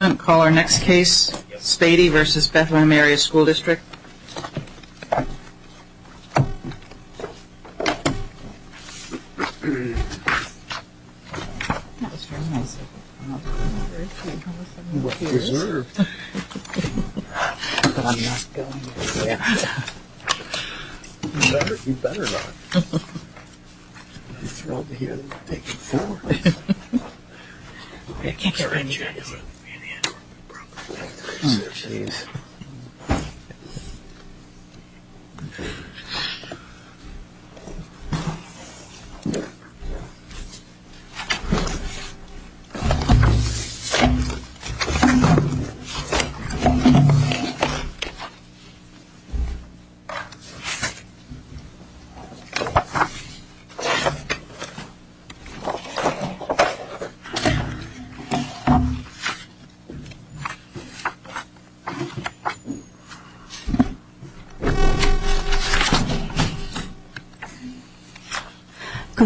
I'm going to call our next case, Spady v. Bethlehem Area School District. I'm going to call our next case, Spady v. Bethlehem Area School District. Good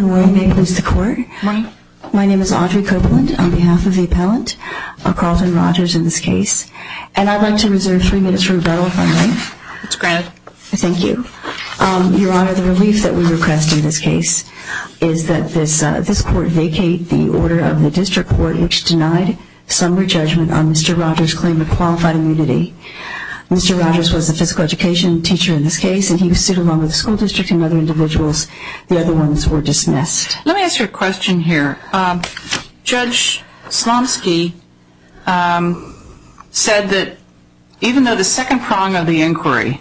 morning. May it please the court. My name is Audrey Copeland on behalf of the appellant, Carlton Rogers in this case. And I'd like to reserve three minutes for rebuttal if I may. That's granted. Thank you. Your Honor, the relief that we request in this case is that this court vacate the order of the district court which denied summary judgment on Mr. Rogers' claim of qualified immunity. Mr. Rogers was a physical education teacher in this case and he was sued along with the school district and other individuals. The other ones were dismissed. Let me ask you a question here. Judge Slomski said that even though the second prong of the inquiry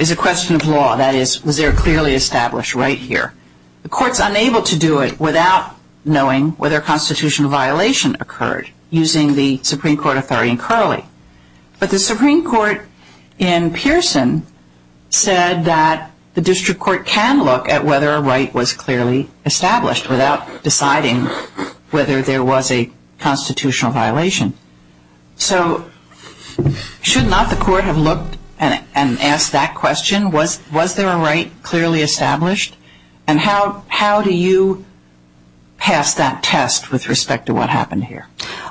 is a question of law, that is, was there a clearly established right here, the court's unable to do it without knowing whether a constitutional violation occurred using the Supreme Court authority in Curley. But the Supreme Court in Pearson said that the district court can look at whether a right was clearly established without deciding whether there was a constitutional violation. So should not the court have looked and asked that question? Was there a right clearly established? And how do you pass that test with respect to what happened here?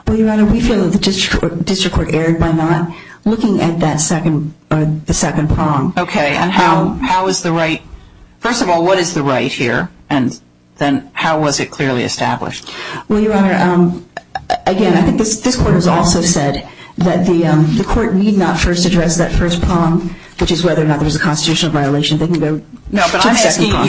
Well, Your Honor, we feel that the district court erred by not looking at that second prong. Okay. And how is the right – first of all, what is the right here? And then how was it clearly established? Well, Your Honor, again, I think this court has also said that the court need not first address that first prong, which is whether or not there was a constitutional violation. They can go to the second prong. No, but I'm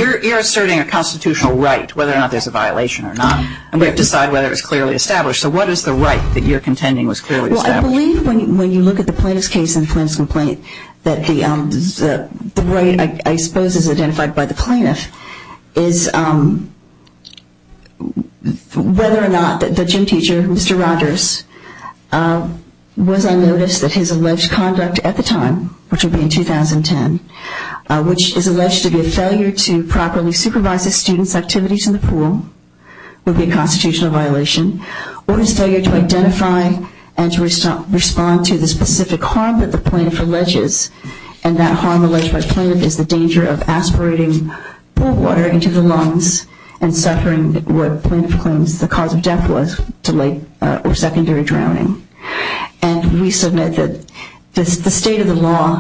asking – you're asserting a constitutional right, whether or not there's a violation or not. And we have to decide whether it was clearly established. So what is the right that you're contending was clearly established? Well, I believe when you look at the plaintiff's case and the plaintiff's complaint that the right, I suppose, is identified by the plaintiff is whether or not the gym teacher, Mr. Rogers, was on notice that his alleged conduct at the time, which would be in 2010, which is alleged to be a failure to properly supervise the student's activities in the pool, would be a constitutional violation, or his failure to identify and to respond to the specific harm that the plaintiff alleges. And that harm alleged by the plaintiff is the danger of aspirating pool water into the lungs and suffering what the plaintiff claims the cause of death was, delayed or secondary drowning. And we submit that the state of the law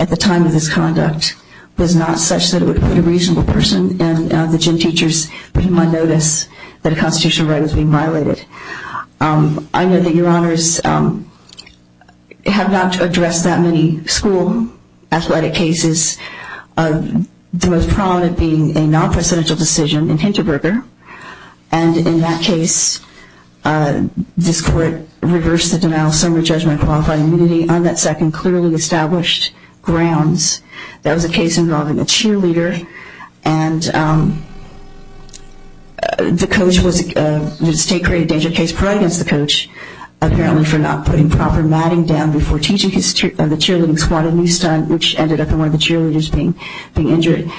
at the time of this conduct was not such that it would put a reasonable person and the gym teachers on notice that a constitutional right was being violated. I know that Your Honors have not addressed that many school athletic cases, the most prominent being a non-presidential decision in Hinterberger. And in that case, this court reversed the denial of summary judgment and qualified immunity on that second clearly established grounds. That was a case involving a cheerleader, and the state created a danger case probably against the coach, apparently for not putting proper matting down before teaching the cheerleading squad a new stunt, which ended up in one of the cheerleaders being injured.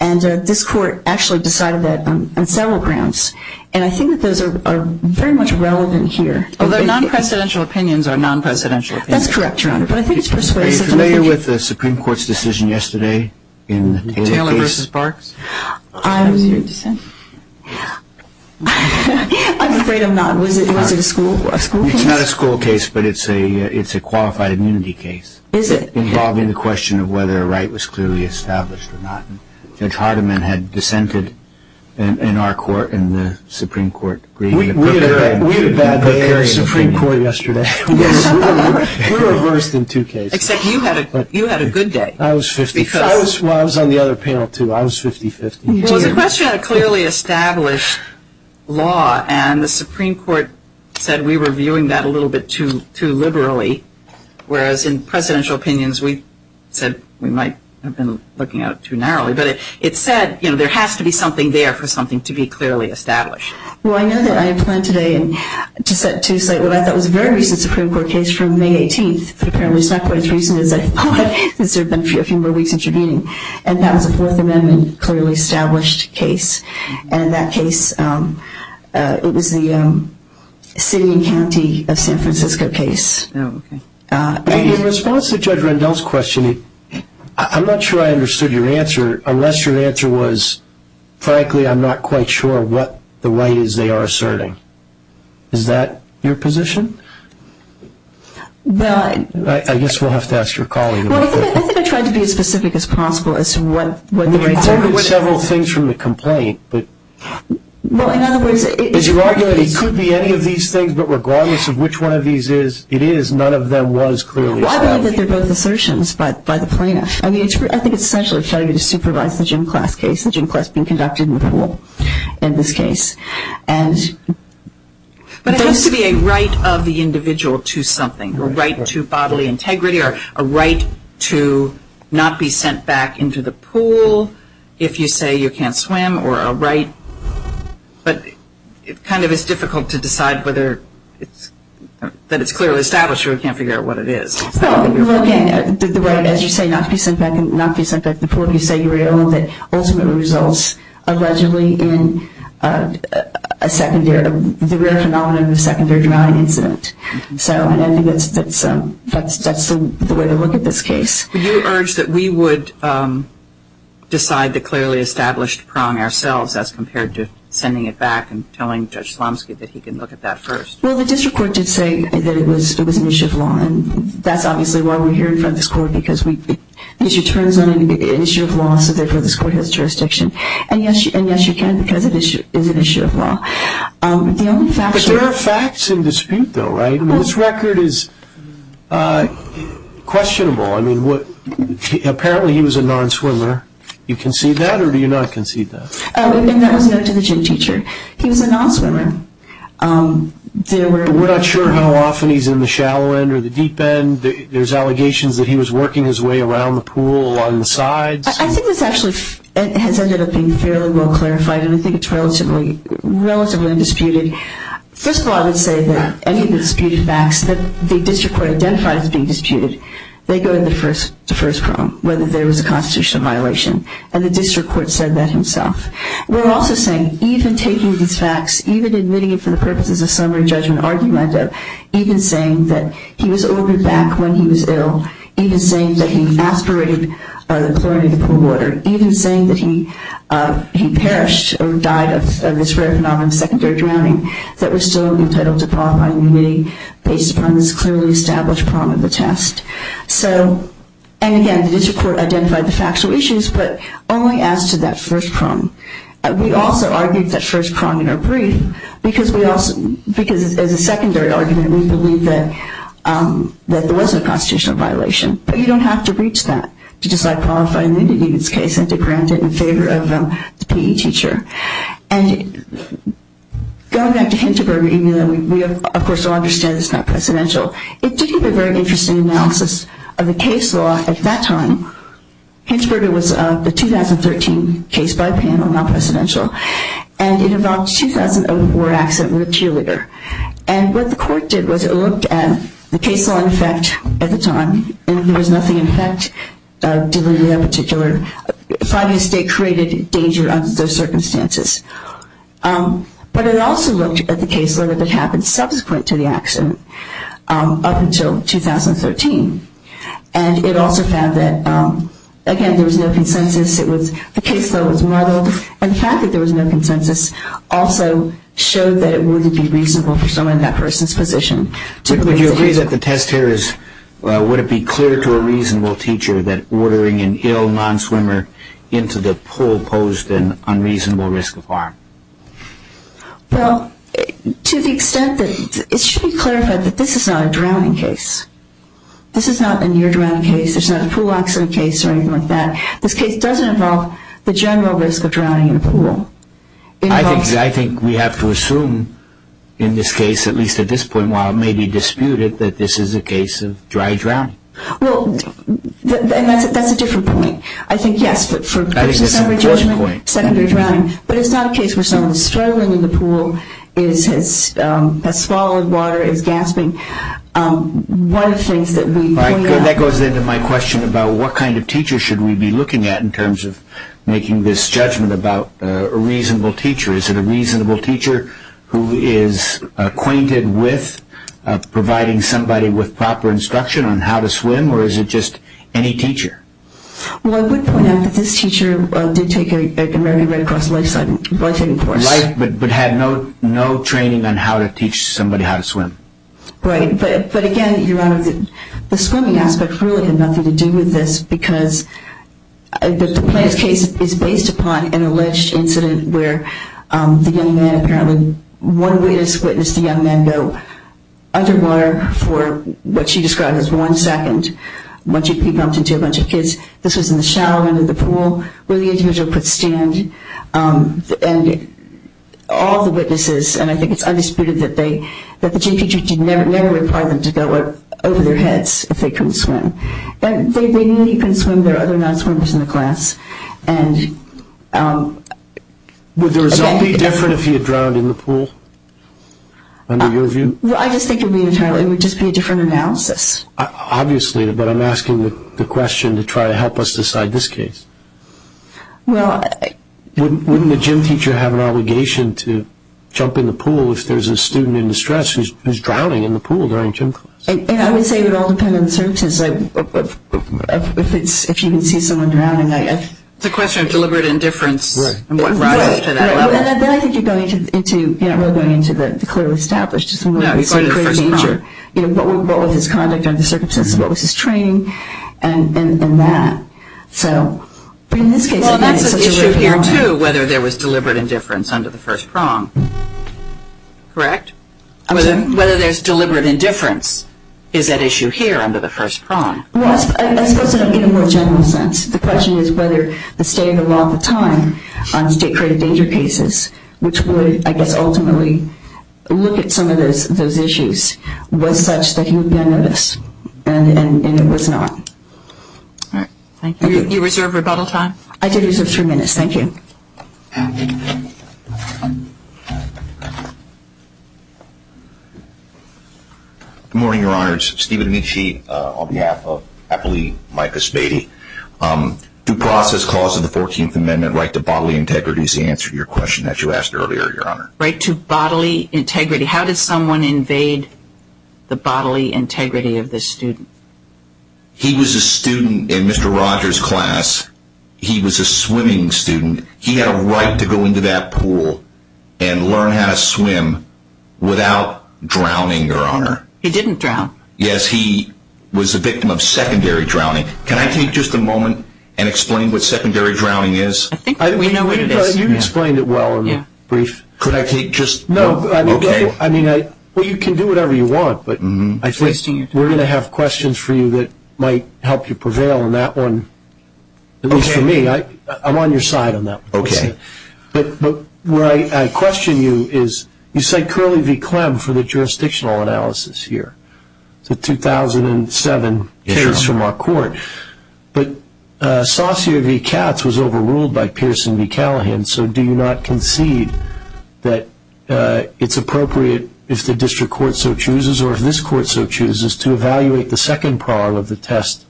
And this court actually decided that on several grounds. And I think that those are very much relevant here. Although non-presidential opinions are non-presidential opinions. That's correct, Your Honor. But I think it's persuasive. Are you familiar with the Supreme Court's decision yesterday in Taylor v. Parks? I'm afraid I'm not. Was it a school case? It's not a school case, but it's a qualified immunity case. Is it? Involving the question of whether a right was clearly established or not. Judge Hardiman had dissented in our court in the Supreme Court. We had a bad day at the Supreme Court yesterday. We were reversed in two cases. Except you had a good day. I was 50-50. Well, I was on the other panel, too. I was 50-50. Well, it was a question of a clearly established law, and the Supreme Court said we were viewing that a little bit too liberally, whereas in presidential opinions we said we might have been looking at it too narrowly. But it said there has to be something there for something to be clearly established. Well, I know that I planned today to cite what I thought was a very recent Supreme Court case from May 18th, but apparently it's not quite as recent as I thought because there have been a few more weeks since your meeting. And that was a Fourth Amendment clearly established case. And that case, it was the city and county of San Francisco case. In response to Judge Rendell's question, I'm not sure I understood your answer, unless your answer was, frankly, I'm not quite sure what the right is they are asserting. Is that your position? I guess we'll have to ask your colleague about that. Well, I think I tried to be as specific as possible as to what the right is. I mean, you quoted several things from the complaint. Well, in other words, it could be any of these things, but regardless of which one of these it is, none of them was clearly established. Well, I believe that they're both assertions by the plaintiff. I mean, I think it's essentially trying to supervise the Jim Class case, the Jim Class being conducted in the pool in this case. But it has to be a right of the individual to something, a right to bodily integrity or a right to not be sent back into the pool if you say you can't swim or a right. But it kind of is difficult to decide whether that it's clearly established or we can't figure out what it is. Well, again, the right, as you say, not to be sent back before you say you're ill and that ultimately results allegedly in a secondary, the rare phenomenon of a secondary drowning incident. So I think that's the way to look at this case. Would you urge that we would decide the clearly established prong ourselves as compared to sending it back and telling Judge Slomski that he can look at that first? Well, the district court did say that it was an issue of law, and that's obviously why we're here in front of this court, because the issue turns on an issue of law, so therefore this court has jurisdiction. And, yes, you can because it is an issue of law. But there are facts in dispute, though, right? This record is questionable. Apparently he was a non-swimmer. Do you concede that or do you not concede that? That was noted to the gym teacher. He was a non-swimmer. We're not sure how often he's in the shallow end or the deep end. There's allegations that he was working his way around the pool along the sides. I think this actually has ended up being fairly well clarified, and I think it's relatively undisputed. First of all, I would say that any of the disputed facts that the district court identified as being disputed, they go to the first problem, whether there was a constitutional violation. And the district court said that himself. We're also saying, even taking these facts, even admitting it for the purposes of summary judgment argument, even saying that he was ordered back when he was ill, even saying that he aspirated the chlorinated pool water, even saying that he perished or died of this rare phenomenon of secondary drowning, that we're still entitled to qualifying immunity based upon this clearly established prong of the test. And again, the district court identified the factual issues, but only as to that first prong. We also argued that first prong in our brief, because as a secondary argument we believe that there was a constitutional violation. But you don't have to reach that to decide qualifying immunity in this case and to grant it in favor of the PE teacher. And going back to Hintzberger, even though we of course all understand it's not presidential, it did give a very interesting analysis of the case law at that time. Hintzberger was the 2013 case by panel, not presidential, and it involved a 2004 accident with a cheerleader. And what the court did was it looked at the case law in effect at the time and there was nothing in effect that delivered that particular finding. The state created danger under those circumstances. But it also looked at the case law that had happened subsequent to the accident up until 2013. And it also found that, again, there was no consensus. The case law was modeled. And the fact that there was no consensus also showed that it wouldn't be reasonable for someone in that person's position. Would you agree that the test here is, would it be clear to a reasonable teacher that ordering an ill non-swimmer into the pool posed an unreasonable risk of harm? Well, to the extent that it should be clarified that this is not a drowning case. This is not a near-drowning case. There's not a pool accident case or anything like that. I think we have to assume in this case, at least at this point, while it may be disputed, that this is a case of dry drowning. Well, and that's a different point. I think, yes, there's a summary judgment, secondary drowning. But it's not a case where someone's struggling in the pool, has swallowed water, is gasping. One of the things that we point out. That goes into my question about what kind of teacher should we be looking at in terms of making this judgment about a reasonable teacher. Is it a reasonable teacher who is acquainted with providing somebody with proper instruction on how to swim, or is it just any teacher? Well, I would point out that this teacher did take a very Red Cross life-saving course. But had no training on how to teach somebody how to swim. Right. But, again, Your Honor, the swimming aspect really had nothing to do with this because the Plants case is based upon an alleged incident where the young man apparently, one witness witnessed the young man go underwater for what she described as one second. Once you'd be bumped into a bunch of kids. This was in the shallow end of the pool where the individual could stand. And all the witnesses, and I think it's undisputed, that the GPG never required them to go over their heads if they couldn't swim. They knew he couldn't swim. There were other non-swimmers in the class. Would the result be different if he had drowned in the pool, under your view? I just think it would be entirely, it would just be a different analysis. Obviously, but I'm asking the question to try to help us decide this case. Wouldn't the gym teacher have an obligation to jump in the pool if there's a student in distress who's drowning in the pool during gym class? I would say it would all depend on the circumstances. If you can see someone drowning, I guess. It's a question of deliberate indifference and what rises to that level. Right. And then I think you're going into, you're not really going into the clearly established. No, you're going to the first prong. What was his conduct under the circumstances? What was his training? And that. So, but in this case, again, it's such a repeated one. Well, that's an issue here, too, whether there was deliberate indifference under the first prong. Correct? Whether there's deliberate indifference is at issue here under the first prong. Well, I suppose in a more general sense. The question is whether the standard law at the time on state-created danger cases, which would, I guess, ultimately look at some of those issues, was such that he would be unnoticed, and it was not. All right. Thank you. You reserve rebuttal time? I did reserve three minutes. Thank you. Good morning, Your Honors. Steven Nitsche on behalf of Appellee Micah Spady. Due process clause of the 14th Amendment, right to bodily integrity, is the answer to your question that you asked earlier, Your Honor. Right to bodily integrity. How did someone invade the bodily integrity of the student? He was a student in Mr. Rogers' class. He was a swimming student. He had a right to go into that pool and learn how to swim without drowning, Your Honor. He didn't drown. Yes, he was a victim of secondary drowning. Can I take just a moment and explain what secondary drowning is? I think we know what it is. You explained it well and brief. Could I take just a moment? Okay. Well, you can do whatever you want, but I think we're going to have questions for you that might help you prevail on that one, at least for me. I'm on your side on that one. Okay. But where I question you is you said Curley v. Clem for the jurisdictional analysis here, the 2007 case from our court. But Saussure v. Katz was overruled by Pearson v. Callahan, so do you not concede that it's appropriate if the district court so chooses or if this court so chooses to evaluate the second part of the test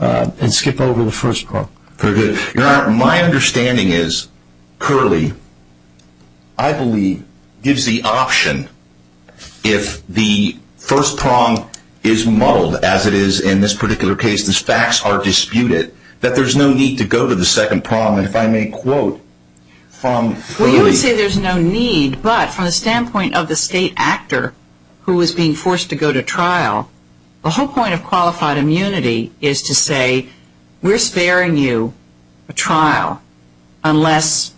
and skip over the first part? Very good. Your Honor, my understanding is Curley, I believe, gives the option if the first prong is muddled, as it is in this particular case, these facts are disputed, that there's no need to go to the second prong. And if I may quote from Curley. Well, you would say there's no need, but from the standpoint of the state actor who was being forced to go to trial, the whole point of qualified immunity is to say we're sparing you a trial unless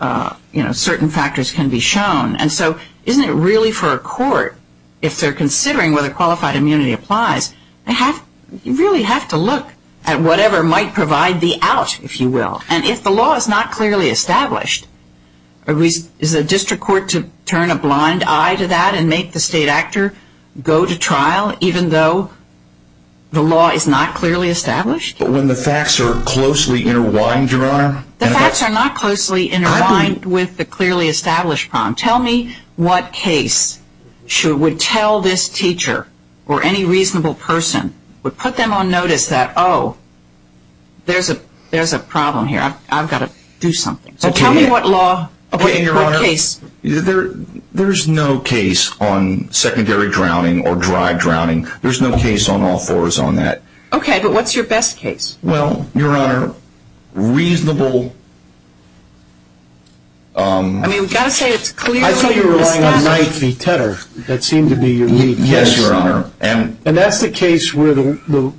certain factors can be shown. And so isn't it really for a court, if they're considering whether qualified immunity applies, you really have to look at whatever might provide the out, if you will. And if the law is not clearly established, is the district court to turn a blind eye to that and make the state actor go to trial even though the law is not clearly established? But when the facts are closely interwined, Your Honor. The facts are not closely interwined with the clearly established prong. Tell me what case would tell this teacher or any reasonable person would put them on notice that, oh, there's a problem here, I've got to do something. So tell me what law, what case. There's no case on secondary drowning or dry drowning. There's no case on all fours on that. Okay, but what's your best case? Well, Your Honor, reasonable. I mean, we've got to say it's clearly established. I thought you were relying on Knight v. Tedder. That seemed to be your lead case. Yes, Your Honor. And that's the case where the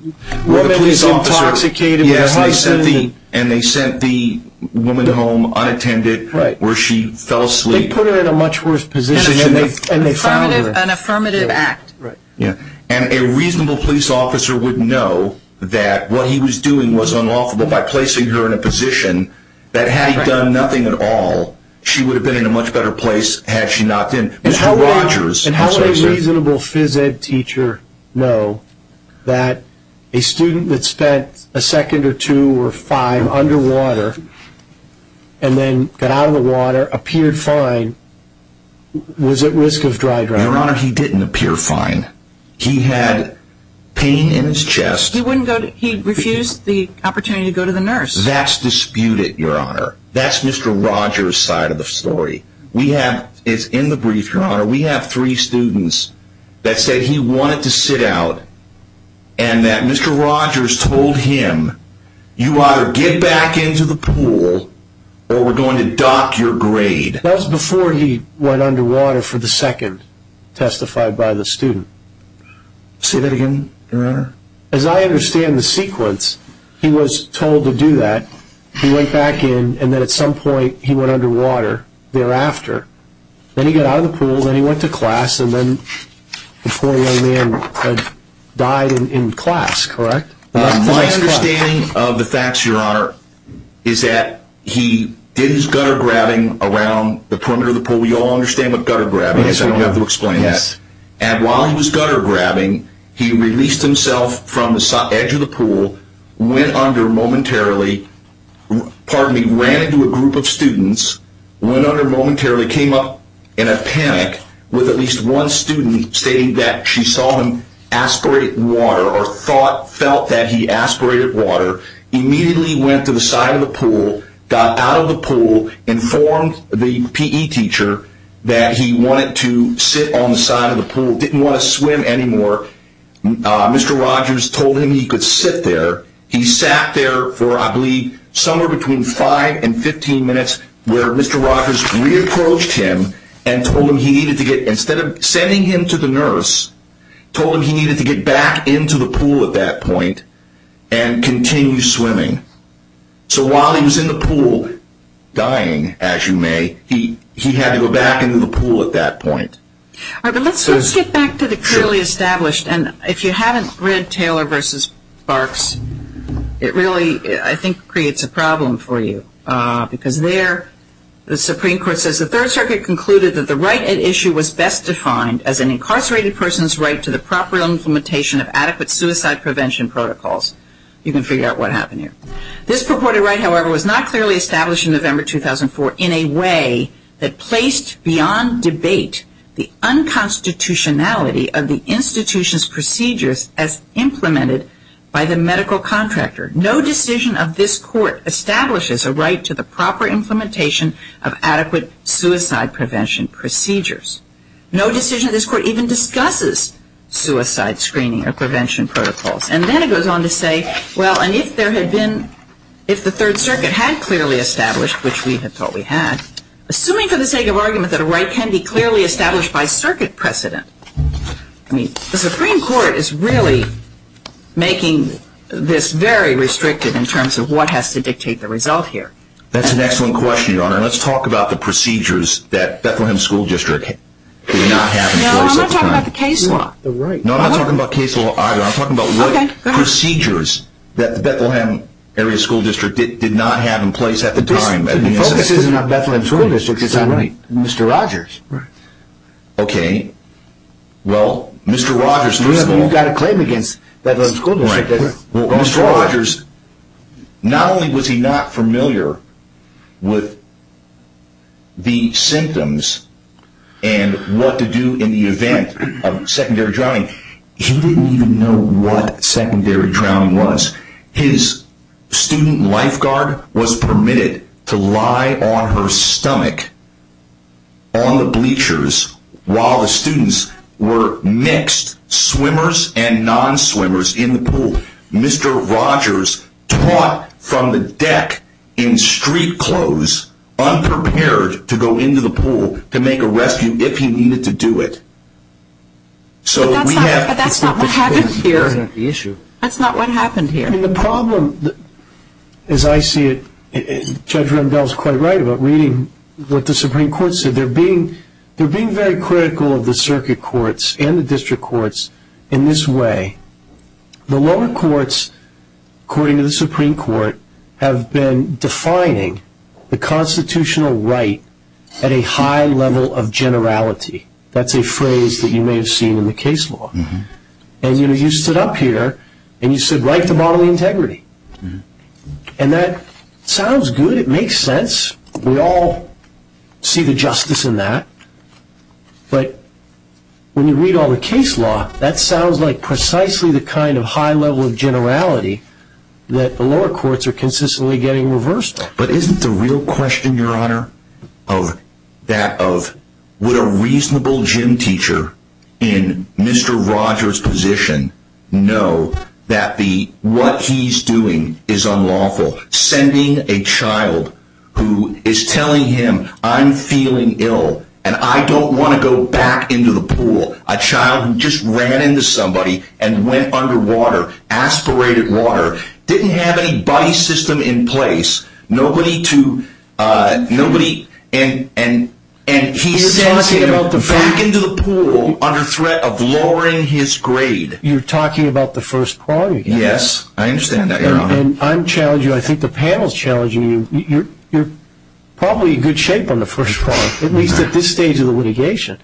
woman is intoxicated with her husband. And they sent the woman home unattended where she fell asleep. They put her in a much worse position and they found her. An affirmative act. And a reasonable police officer would know that what he was doing was unlawful. But by placing her in a position that had done nothing at all, she would have been in a much better place had she not been. And how would a reasonable phys ed teacher know that a student that spent a second or two or five underwater and then got out of the water, appeared fine, was at risk of dry drowning? Your Honor, he didn't appear fine. He had pain in his chest. He refused the opportunity to go to the nurse. That's disputed, Your Honor. That's Mr. Rogers' side of the story. It's in the brief, Your Honor. We have three students that said he wanted to sit out and that Mr. Rogers told him, you either get back into the pool or we're going to dock your grade. That was before he went underwater for the second testified by the student. Say that again, Your Honor. As I understand the sequence, he was told to do that. He went back in and then at some point he went underwater thereafter. Then he got out of the pool, then he went to class, and then the poor young man died in class, correct? My understanding of the facts, Your Honor, is that he did his gutter grabbing around the perimeter of the pool. We all understand what gutter grabbing is. I don't have to explain that. And while he was gutter grabbing, he released himself from the edge of the pool, went under momentarily, pardon me, ran into a group of students, went under momentarily, came up in a panic with at least one student stating that she saw him aspirate water or felt that he aspirated water, immediately went to the side of the pool, got out of the pool, informed the PE teacher that he wanted to sit on the side of the pool, didn't want to swim anymore. Mr. Rogers told him he could sit there. He sat there for, I believe, somewhere between 5 and 15 minutes where Mr. Rogers re-approached him and told him he needed to get, instead of sending him to the nurse, told him he needed to get back into the pool at that point and continue swimming. So while he was in the pool dying, as you may, he had to go back into the pool at that point. All right, but let's get back to the clearly established. And if you haven't read Taylor v. Barks, it really, I think, creates a problem for you. Because there the Supreme Court says the Third Circuit concluded that the right at issue was best defined as an incarcerated person's right to the proper implementation of adequate suicide prevention protocols. You can figure out what happened here. This purported right, however, was not clearly established in November 2004 in a way that placed beyond debate the unconstitutionality of the institution's procedures as implemented by the medical contractor. No decision of this court establishes a right to the proper implementation of adequate suicide prevention procedures. No decision of this court even discusses suicide screening or prevention protocols. And then it goes on to say, well, and if there had been, if the Third Circuit had clearly established, which we had thought we had, assuming for the sake of argument that a right can be clearly established by circuit precedent, I mean, the Supreme Court is really making this very restricted in terms of what has to dictate the result here. That's an excellent question, Your Honor. Let's talk about the procedures that Bethlehem School District did not have in place at the time. No, I'm not talking about the case law. No, I'm not talking about case law either. I'm talking about what procedures that the Bethlehem Area School District did not have in place at the time. The focus isn't on Bethlehem School District. It's on Mr. Rogers. Right. Okay. Well, Mr. Rogers. You've got a claim against Bethlehem School District. Right. Well, Mr. Rogers, not only was he not familiar with the symptoms and what to do in the event of secondary drowning, he didn't even know what secondary drowning was. His student lifeguard was permitted to lie on her stomach on the bleachers while the students were mixed, swimmers and non-swimmers, in the pool. Mr. Rogers taught from the deck in street clothes, unprepared to go into the pool to make a rescue if he needed to do it. But that's not what happened here. That's not what happened here. And the problem, as I see it, Judge Rendell is quite right about reading what the Supreme Court said. They're being very critical of the circuit courts and the district courts in this way. The lower courts, according to the Supreme Court, have been defining the constitutional right at a high level of generality. That's a phrase that you may have seen in the case law. And, you know, you stood up here and you said, write the bodily integrity. And that sounds good. It makes sense. We all see the justice in that. But when you read all the case law, that sounds like precisely the kind of high level of generality that the lower courts are consistently getting reversed. But isn't the real question, Your Honor, of that of would a reasonable gym teacher in Mr. Rogers' position know that what he's doing is unlawful? Sending a child who is telling him, I'm feeling ill and I don't want to go back into the pool. A child who just ran into somebody and went underwater, aspirated water, didn't have any body system in place. Nobody to, nobody, and he sends him back into the pool under threat of lowering his grade. You're talking about the first part. Yes, I understand that, Your Honor. And I'm challenging, I think the panel's challenging you. You're probably in good shape on the first part, at least at this stage of the litigation.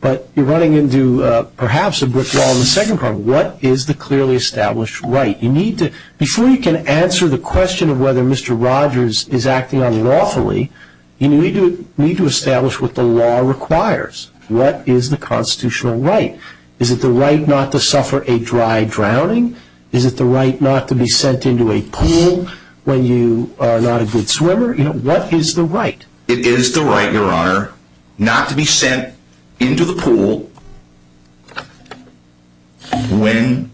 But you're running into perhaps a brick wall in the second part. What is the clearly established right? You need to, before you can answer the question of whether Mr. Rogers is acting unlawfully, you need to establish what the law requires. What is the constitutional right? Is it the right not to suffer a dry drowning? Is it the right not to be sent into a pool when you are not a good swimmer? What is the right? It is the right, Your Honor, not to be sent into the pool when,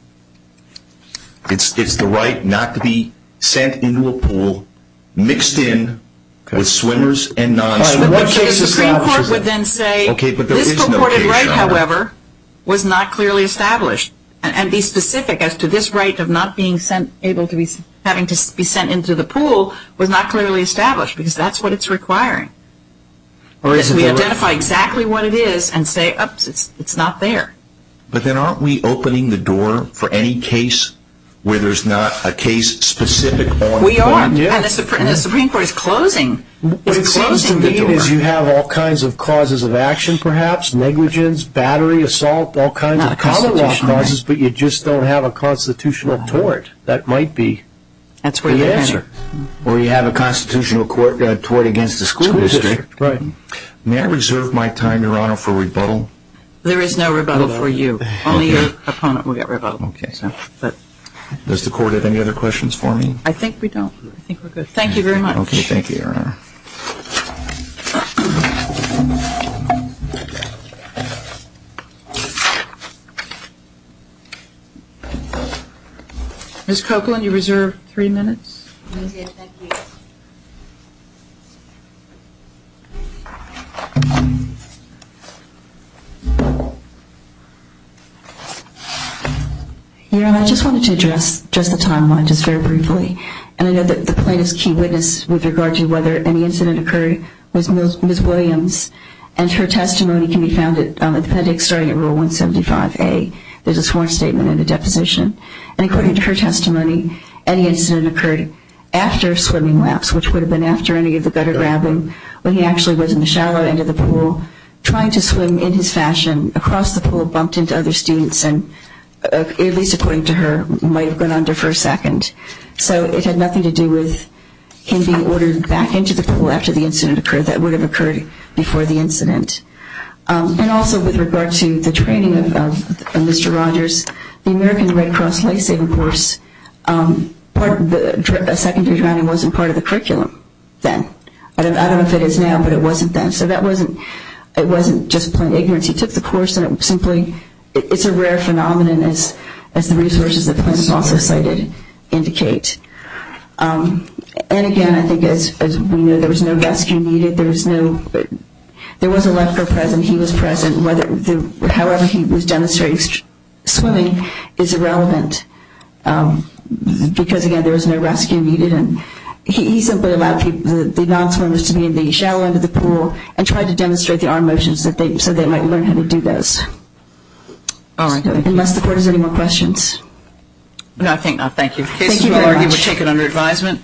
it's the right not to be sent into a pool mixed in with swimmers and non-swimmers. The Supreme Court would then say, this purported right, however, was not clearly established. And be specific as to this right of not being sent, having to be sent into the pool was not clearly established because that's what it's requiring. We identify exactly what it is and say, oops, it's not there. But then aren't we opening the door for any case where there's not a case specific? We are, and the Supreme Court is closing the door. What it seems to me is you have all kinds of causes of action perhaps, negligence, battery, assault, all kinds of causes, but you just don't have a constitutional tort. That might be the answer. Or you have a constitutional tort against the school district. Right. May I reserve my time, Your Honor, for rebuttal? There is no rebuttal for you. Only your opponent will get rebuttal. Does the Court have any other questions for me? I think we don't. I think we're good. Thank you very much. Okay, thank you, Your Honor. Ms. Copeland, you reserve three minutes. Thank you. Your Honor, I just wanted to address the timeline just very briefly. And I know that the plaintiff's key witness with regard to whether any incident occurred was Ms. Williams. And her testimony can be found at the appendix starting at Rule 175A. There's a sworn statement and a deposition. And according to her testimony, any incident occurred after a swimming lapse, which would have been after any of the gutter grabbing, when he actually was in the shallow end of the pool, trying to swim in his fashion across the pool, bumped into other students, and at least according to her, might have gone under for a second. So it had nothing to do with him being ordered back into the pool after the incident occurred. That would have occurred before the incident. And also with regard to the training of Mr. Rogers, the American Red Cross life-saving course, a secondary drowning wasn't part of the curriculum then. I don't know if it is now, but it wasn't then. So it wasn't just plain ignorance. He took the course and it simply is a rare phenomenon, as the resources that the plaintiff also cited indicate. And again, I think as we know, there was no rescue needed. There was a lifeguard present. He was present. However he was demonstrating swimming is irrelevant, because again, there was no rescue needed. And he simply allowed the non-swimmers to be in the shallow end of the pool and tried to demonstrate the arm motions so they might learn how to do those. Unless the court has any more questions. No, I think not. Thank you. Thank you very much. The case is well argued but taken under advisement.